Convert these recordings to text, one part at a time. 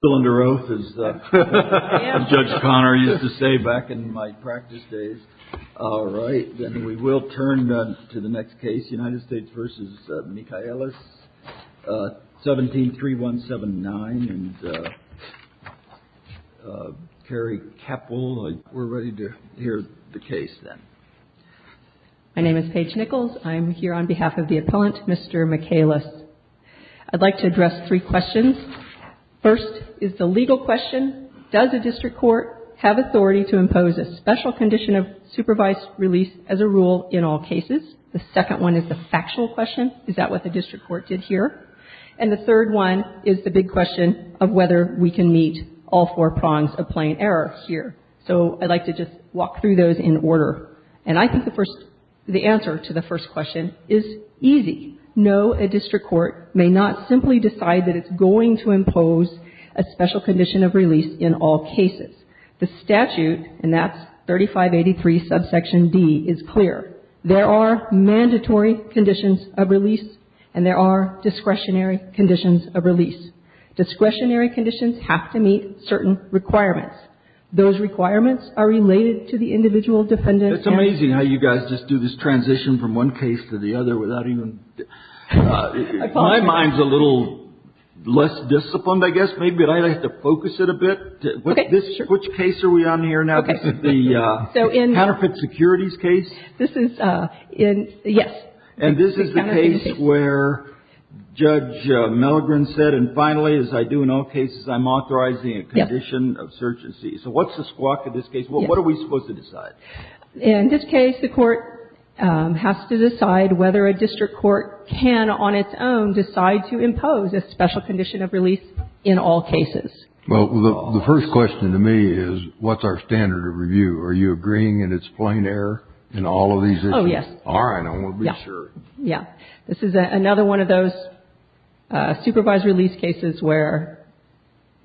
173179 and Kerry Keppel. We're ready to hear the case then. My name is Paige Nichols. I'm here on behalf of the appellant, Mr. Michaelis. I'd like to address three questions. First is the legal question. Does a district court have authority to impose a special condition of supervised release as a rule in all cases? The second one is the factual question. Is that what the district court did here? And the third one is the big question of whether we can meet all four prongs of plain error here. So I'd like to just walk through those in order. And I think the answer to the first question is easy. No, a district court may not simply decide that it's going to impose a special condition of release in all cases. The statute, and that's 3583 subsection D, is clear. There are mandatory conditions of release, and there are discretionary conditions of release. Discretionary conditions have to meet certain requirements. Those requirements are related to the individual defendant. It's amazing how you guys just do this transition from one case to the other without even – my mind's a little less disciplined, I guess. Maybe I'd like to focus it a bit. Which case are we on here now? This is the counterfeit securities case? This is – yes. And this is the case where Judge Melligren said, and finally, as I do in all cases, I'm authorizing a condition of surgency. So what's the squawk of this case? What are we supposed to decide? In this case, the court has to decide whether a district court can, on its own, decide to impose a special condition of release in all cases. Well, the first question to me is, what's our standard of review? Are you agreeing that it's plain error in all of these issues? Oh, yes. All right. I want to be sure. Yes. This is another one of those supervised release cases where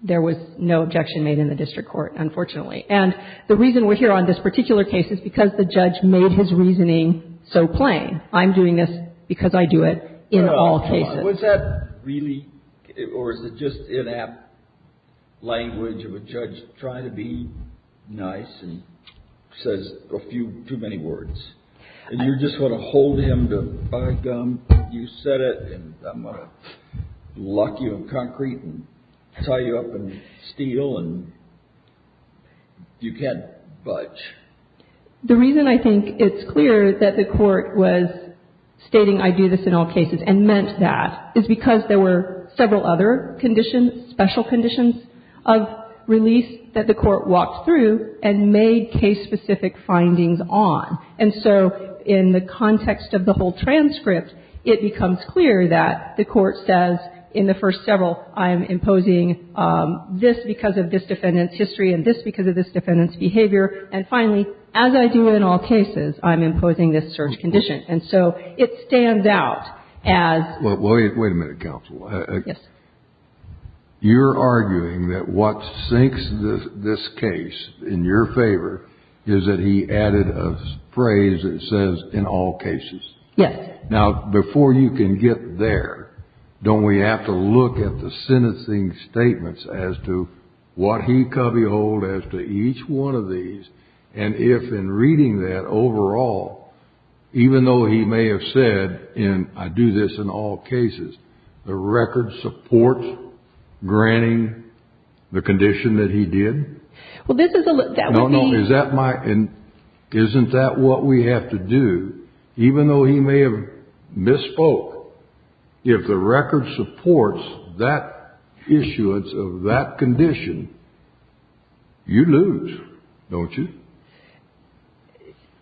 there was no objection made in the district court, unfortunately. And the reason we're here on this particular case is because the judge made his reasoning so plain. I'm doing this because I do it in all cases. Was that really – or is it just in-app language of a judge trying to be nice and says a few – too many words? And you're just going to hold him to buy gum. You said it, and I'm going to lock you in concrete and tie you up in steel, and you can't budge. The reason I think it's clear that the court was stating I do this in all cases and meant that is because there were several other conditions, special conditions of release that the court walked through and made case-specific findings on. And so in the context of the whole transcript, it becomes clear that the court says in the first several, I am imposing this because of this defendant's history and this because of this defendant's behavior. And finally, as I do in all cases, I'm imposing this search condition. And so it stands out as – Wait a minute, counsel. Yes. You're arguing that what sinks this case in your favor is that he added a phrase that says in all cases. Yes. Now, before you can get there, don't we have to look at the sentencing statements as to what he could behold as to each one of these? And if in reading that overall, even though he may have said in I do this in all cases, the record supports granting the condition that he did? Well, this is – No, no. Is that my – isn't that what we have to do? Even though he may have misspoke, if the record supports that issuance of that condition, you lose, don't you?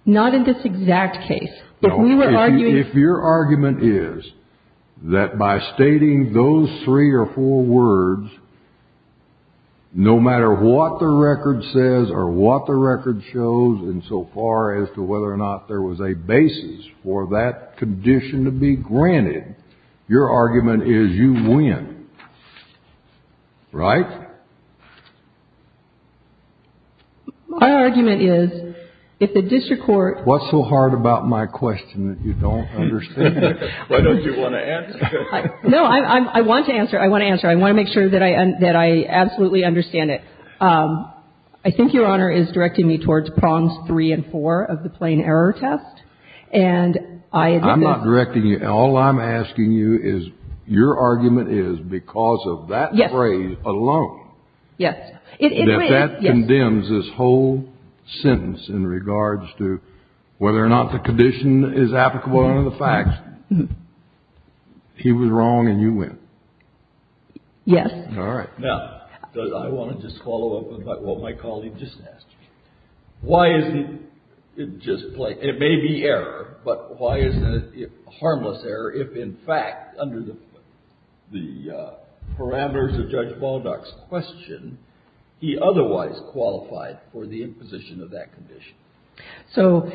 Not in this exact case. If your argument is that by stating those three or four words, no matter what the record says or what the record shows insofar as to whether or not there was a basis for that condition to be granted, your argument is you win, right? My argument is if the district court – What's so hard about my question that you don't understand? Why don't you want to answer? No, I want to answer. I want to answer. I want to make sure that I absolutely understand it. I think Your Honor is directing me towards prongs three and four of the plain error test, and I admit that – I'm not directing you. All I'm asking you is your argument is because of that phrase alone. Yes. Yes. That that condemns this whole sentence in regards to whether or not the condition is applicable under the facts. He was wrong, and you win. Yes. All right. Now, I want to just follow up on what my colleague just asked me. Why isn't it just – it may be error, but why isn't it harmless error if, in fact, under the parameters of Judge Baldock's question, he otherwise qualified for the imposition of that condition? So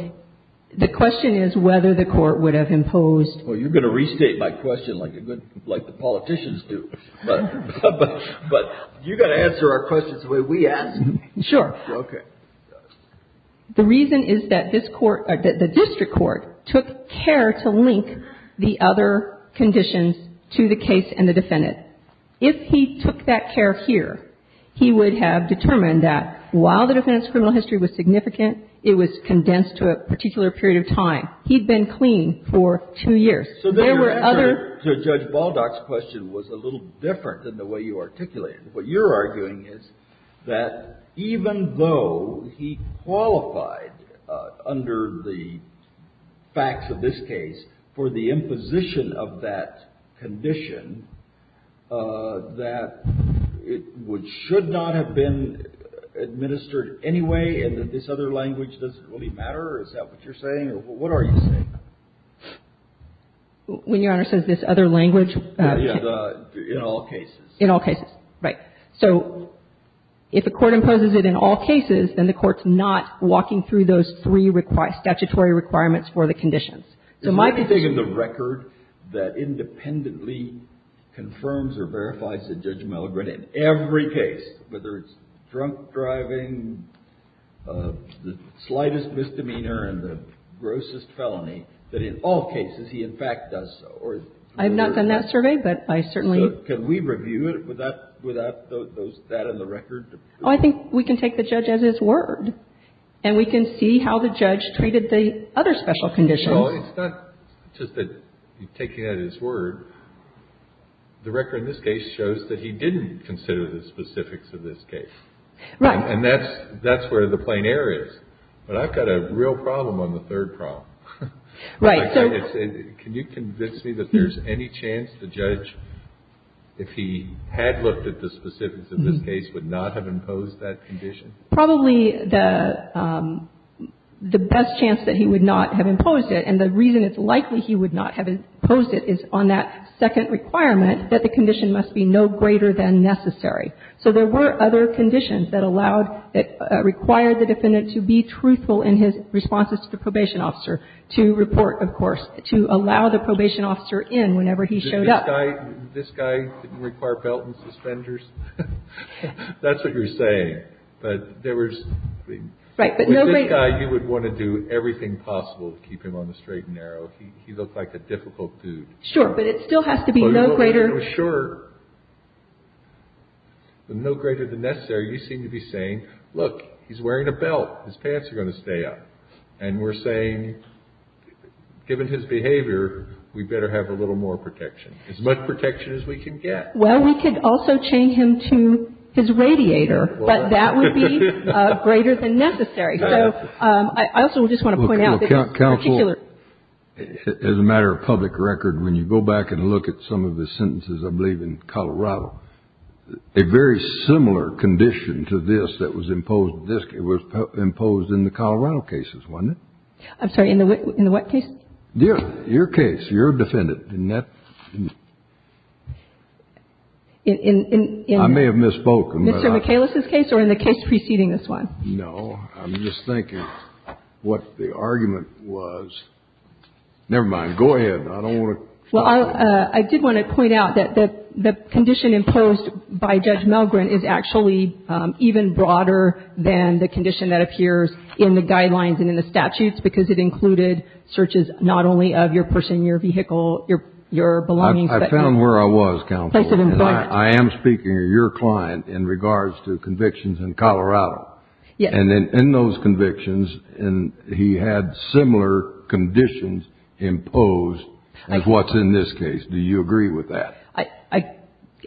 the question is whether the court would have imposed – Well, you're going to restate my question like the politicians do, but you've got to answer our questions the way we ask them. Sure. Okay. The reason is that this court – that the district court took care to link the other conditions to the case and the defendant. If he took that care here, he would have determined that while the defendant's criminal history was significant, it was condensed to a particular period of time. He'd been clean for two years. There were other – So then your answer to Judge Baldock's question was a little different than the way you articulated it. What you're arguing is that even though he qualified under the facts of this case for the imposition of that condition, that it should not have been administered anyway and that this other language doesn't really matter? Is that what you're saying? Or what are you saying? When Your Honor says this other language? In all cases. In all cases. Right. So if a court imposes it in all cases, then the court's not walking through those three statutory requirements for the conditions. So my position – So can we review it without those – that in the record? Oh, I think we can take the judge as his word. And we can see how the judge treated the other special conditions. Well, it's not just that you're taking it at his word. The record in this case shows that he didn't consider the specifics of this case. Right. And that's where the plein air is. But I've got a real problem on the third problem. Right. Can you convince me that there's any chance the judge, if he had looked at the specifics of this case, would not have imposed that condition? Probably the best chance that he would not have imposed it, and the reason it's likely he would not have imposed it is on that second requirement that the condition must be no greater than necessary. So there were other conditions that allowed – that required the defendant to be truthful in his responses to the probation officer, to report, of course, to allow the probation officer in whenever he showed up. This guy didn't require belt and suspenders? That's what you're saying. But there was – with this guy, you would want to do everything possible to keep him on the straight and narrow. He looked like a difficult dude. Sure. But it still has to be no greater – Sure. But no greater than necessary, you seem to be saying, look, he's wearing a belt. His pants are going to stay up. And we're saying, given his behavior, we better have a little more protection, as much protection as we can get. Well, we could also chain him to his radiator, but that would be greater than necessary. So I also just want to point out that this particular – Counsel, as a matter of public record, when you go back and look at some of the sentences, I believe in Colorado, a very similar condition to this that was imposed in the Colorado cases, wasn't it? I'm sorry, in the what case? Your case. You're a defendant. Isn't that – I may have misspoken. In Mr. Michaelis' case or in the case preceding this one? No. I'm just thinking what the argument was. Never mind. Go ahead. I don't want to – Well, I did want to point out that the condition imposed by Judge Milgren is actually even broader than the condition that appears in the guidelines and in the statutes, because it included searches not only of your person, your vehicle, your belongings, but your place of employment. I found where I was, Counsel, and I am speaking of your client in regards to convictions in Colorado. Yes. And in those convictions, he had similar conditions imposed as what's in this case. Do you agree with that? I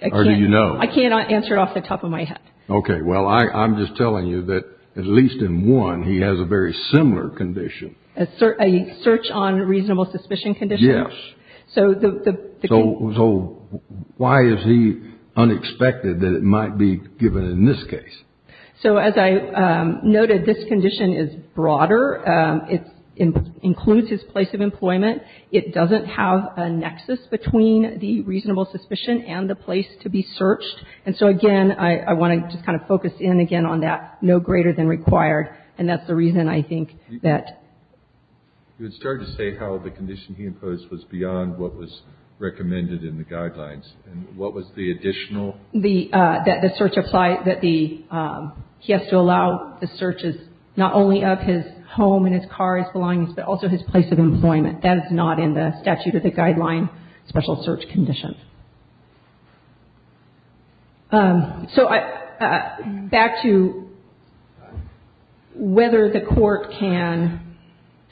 can't. Or do you know? I can't answer it off the top of my head. Okay. Well, I'm just telling you that at least in one, he has a very similar condition. A search on reasonable suspicion condition? Yes. So the – So why is he unexpected that it might be given in this case? So as I noted, this condition is broader. It includes his place of employment. It doesn't have a nexus between the reasonable suspicion and the place to be searched. And so, again, I want to just kind of focus in, again, on that no greater than required. And that's the reason, I think, that – You had started to say how the condition he imposed was beyond what was recommended in the guidelines. And what was the additional – The – that the search apply – that the – he has to allow the searches not only of his home and his car, his belongings, but also his place of employment. And that is not in the statute or the guideline special search condition. So back to whether the court can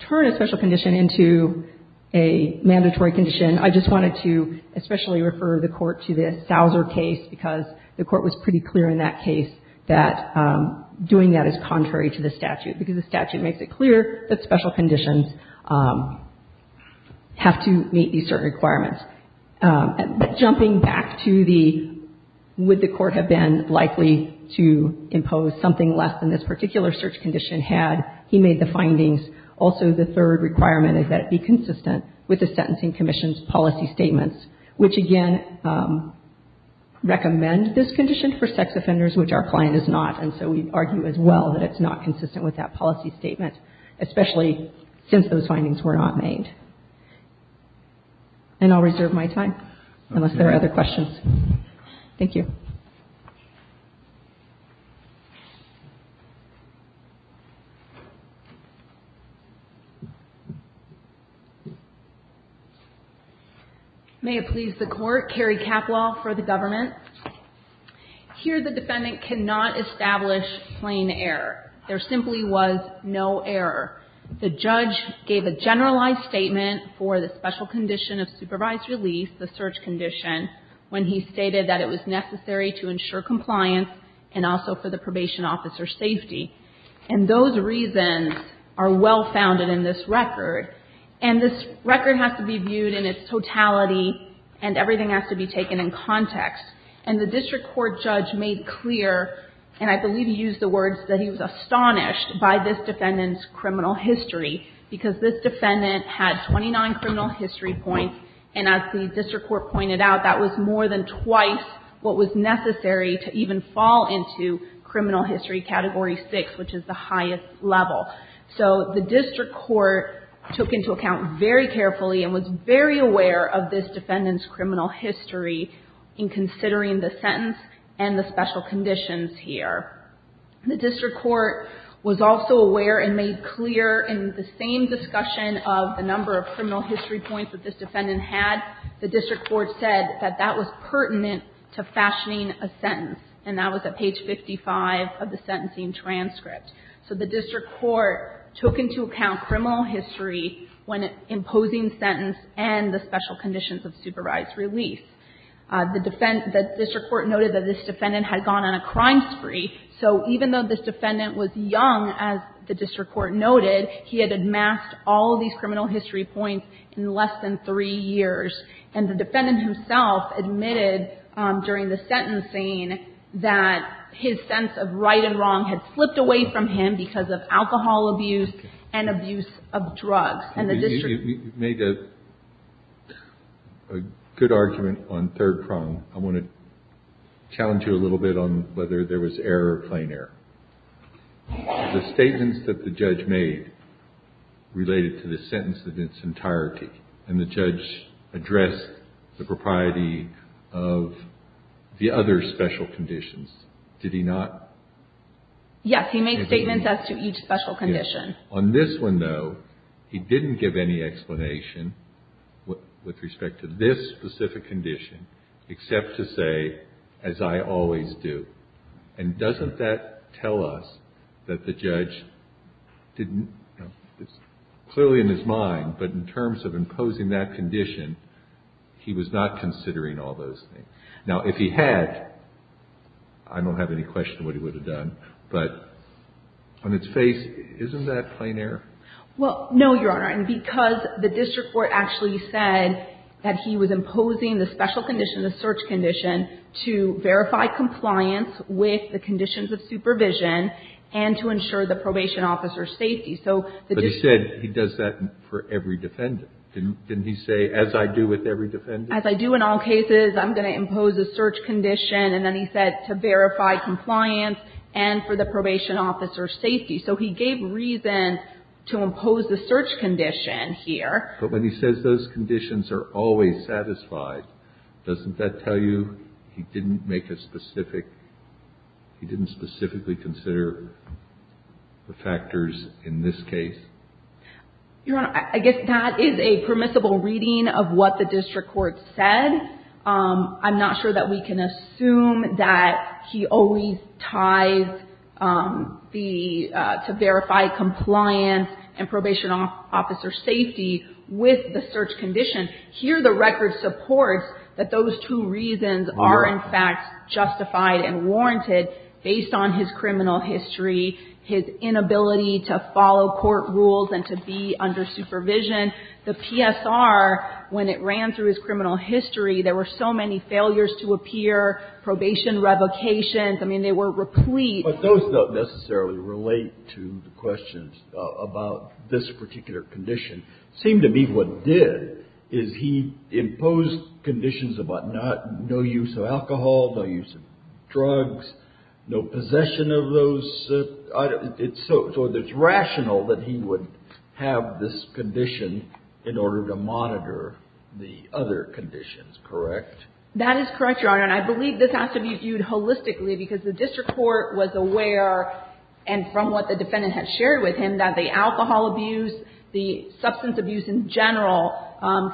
turn a special condition into a mandatory condition, I just wanted to especially refer the court to the Souser case because the court was pretty clear in that case that doing that is contrary to the statute, because the statute makes it clear that special conditions have to meet these certain requirements. But jumping back to the – would the court have been likely to impose something less than this particular search condition had he made the findings? Also, the third requirement is that it be consistent with the Sentencing Commission's policy statements, which, again, recommend this condition for sex offenders, which our client is not. And so we argue as well that it's not consistent with that policy statement, especially since those findings were not made. And I'll reserve my time unless there are other questions. Thank you. May it please the Court. Carrie Capwell for the government. Here the defendant cannot establish plain error. There simply was no error. The judge gave a generalized statement for the special condition of supervised release, the search condition, when he stated that it was necessary to ensure compliance and also for the probation officer's safety. And those reasons are well-founded in this record. And this record has to be viewed in its totality, and everything has to be taken in context. And the district court judge made clear, and I believe he used the words that he was astonished by this defendant's criminal history, because this defendant had 29 criminal history points. And as the district court pointed out, that was more than twice what was necessary to even fall into criminal history category 6, which is the highest level. So the district court took into account very carefully and was very aware of this defendant's and the special conditions here. The district court was also aware and made clear in the same discussion of the number of criminal history points that this defendant had. The district court said that that was pertinent to fashioning a sentence, and that was at page 55 of the sentencing transcript. So the district court took into account criminal history when imposing sentence and the special conditions of supervised release. The district court noted that this defendant had gone on a crime spree. So even though this defendant was young, as the district court noted, he had amassed all of these criminal history points in less than three years. And the defendant himself admitted during the sentencing that his sense of right and wrong had flipped away from him because of alcohol abuse and abuse of drugs. We made a good argument on third prong. I want to challenge you a little bit on whether there was error or plain error. The statements that the judge made related to the sentence in its entirety, and the judge addressed the propriety of the other special conditions. Did he not? Yes. He made statements as to each special condition. On this one, though, he didn't give any explanation with respect to this specific condition, except to say, as I always do. And doesn't that tell us that the judge didn't, clearly in his mind, but in terms of imposing that condition, he was not considering all those things. Now, if he had, I don't have any question of what he would have done, but on its face, isn't that plain error? Well, no, Your Honor. And because the district court actually said that he was imposing the special condition, the search condition, to verify compliance with the conditions of supervision and to ensure the probation officer's safety. But he said he does that for every defendant. Didn't he say, as I do with every defendant? As I do in all cases, I'm going to impose a search condition. And then he said to verify compliance and for the probation officer's safety. So he gave reason to impose the search condition here. But when he says those conditions are always satisfied, doesn't that tell you he didn't make a specific he didn't specifically consider the factors in this case? Your Honor, I guess that is a permissible reading of what the district court said. I'm not sure that we can assume that he always ties the, to verify compliance and probation officer's safety with the search condition. Here the record supports that those two reasons are in fact justified and warranted based on his criminal history, his inability to follow court rules and to be under supervision. The PSR, when it ran through his criminal history, there were so many failures to appear, probation revocations. I mean, they were replete. But those don't necessarily relate to the questions about this particular condition. It seemed to me what did is he imposed conditions about no use of alcohol, no use of drugs, no possession of those items. So it's rational that he would have this condition in order to monitor the other conditions, correct? That is correct, Your Honor. And I believe this has to be viewed holistically because the district court was aware and from what the defendant had shared with him that the alcohol abuse, the substance abuse in general contributed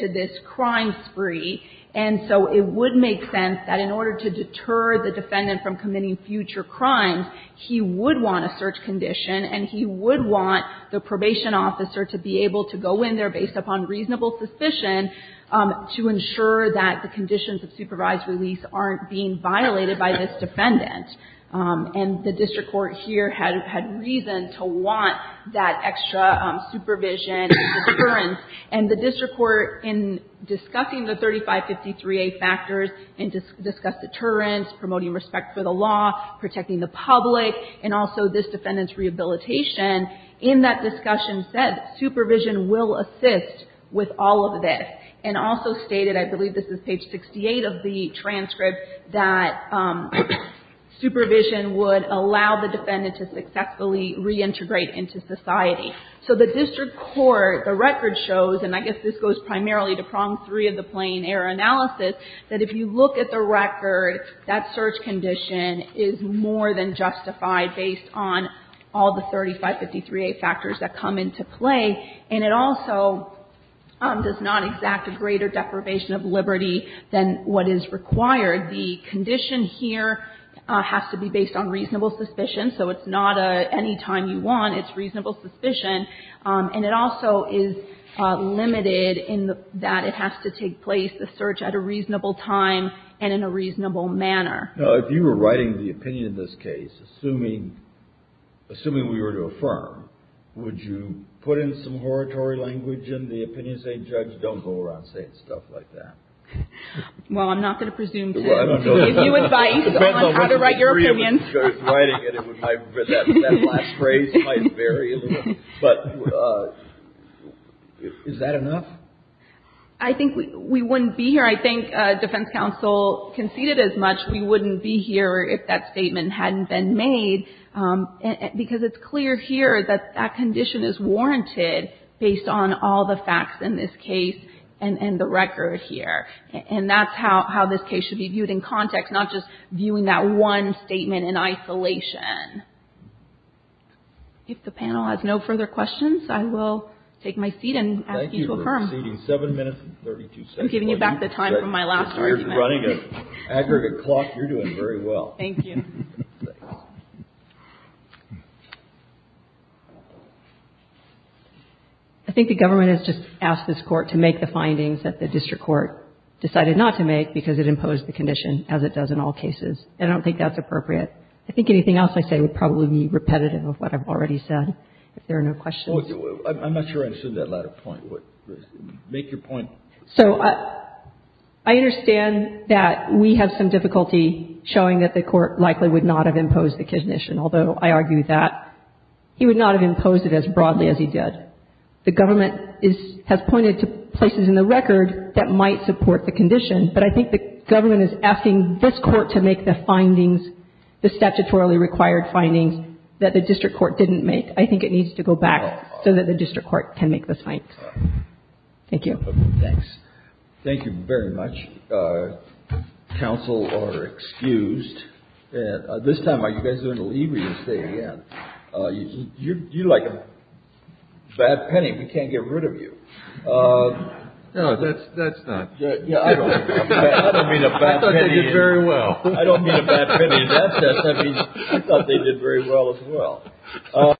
to this crime spree. And so it would make sense that in order to deter the defendant from committing future crimes, he would want a search condition and he would want the probation officer to be able to go in there based upon reasonable suspicion to ensure that the conditions of supervised release aren't being violated by this defendant. And the district court here had reason to want that extra supervision and deterrence. And the district court in discussing the 3553A factors and discussed deterrence, promoting respect for the law, protecting the public, and also this defendant's rehabilitation, in that discussion said supervision will assist with all of this. And also stated, I believe this is page 68 of the transcript, that supervision would allow the defendant to successfully reintegrate into society. So the district court, the record shows, and I guess this goes primarily to prong 3 of the Plain Air analysis, that if you look at the record, that search condition is more than justified based on all the 3553A factors that come into play. And it also does not exact a greater deprivation of liberty than what is required. The condition here has to be based on reasonable suspicion. So it's not an anytime you want. It's reasonable suspicion. And it also is limited in that it has to take place, the search, at a reasonable time and in a reasonable manner. Kennedy. Now, if you were writing the opinion in this case, assuming we were to affirm, would you put in some oratory language in the opinion, say, Judge, don't go around saying stuff like that? Well, I'm not going to presume to give you advice on how to write your opinion. That last phrase might vary a little. But is that enough? I think we wouldn't be here. I think defense counsel conceded as much. We wouldn't be here if that statement hadn't been made, because it's clear here that that condition is warranted based on all the facts in this case and the record here. And that's how this case should be viewed in context, not just viewing that one statement in isolation. If the panel has no further questions, I will take my seat and ask you to affirm. Thank you for exceeding 7 minutes and 32 seconds. I'm giving you back the time from my last argument. You're running an aggregate clock. You're doing very well. Thank you. Thanks. I think the government has just asked this court to make the findings that the district court decided not to make, because it imposed the condition, as it does in all cases. I don't think that's appropriate. I think anything else I say would probably be repetitive of what I've already said. If there are no questions. I'm not sure I understood that latter point. Make your point. So I understand that we have some difficulty showing that the Court likely would not have imposed the condition, although I argue that. He would not have imposed it as broadly as he did. The government has pointed to places in the record that might support the condition, but I think the government is asking this court to make the findings, the statutorily required findings that the district court didn't make. I think it needs to go back so that the district court can make the findings. Thank you. Thanks. Thank you very much. Counsel are excused. This time, you guys are in the lead where you're staying at. You're like a bad penny. We can't get rid of you. No, that's not. Yeah. I don't mean a bad penny. I thought they did very well. I don't mean a bad penny. I thought they did very well as well.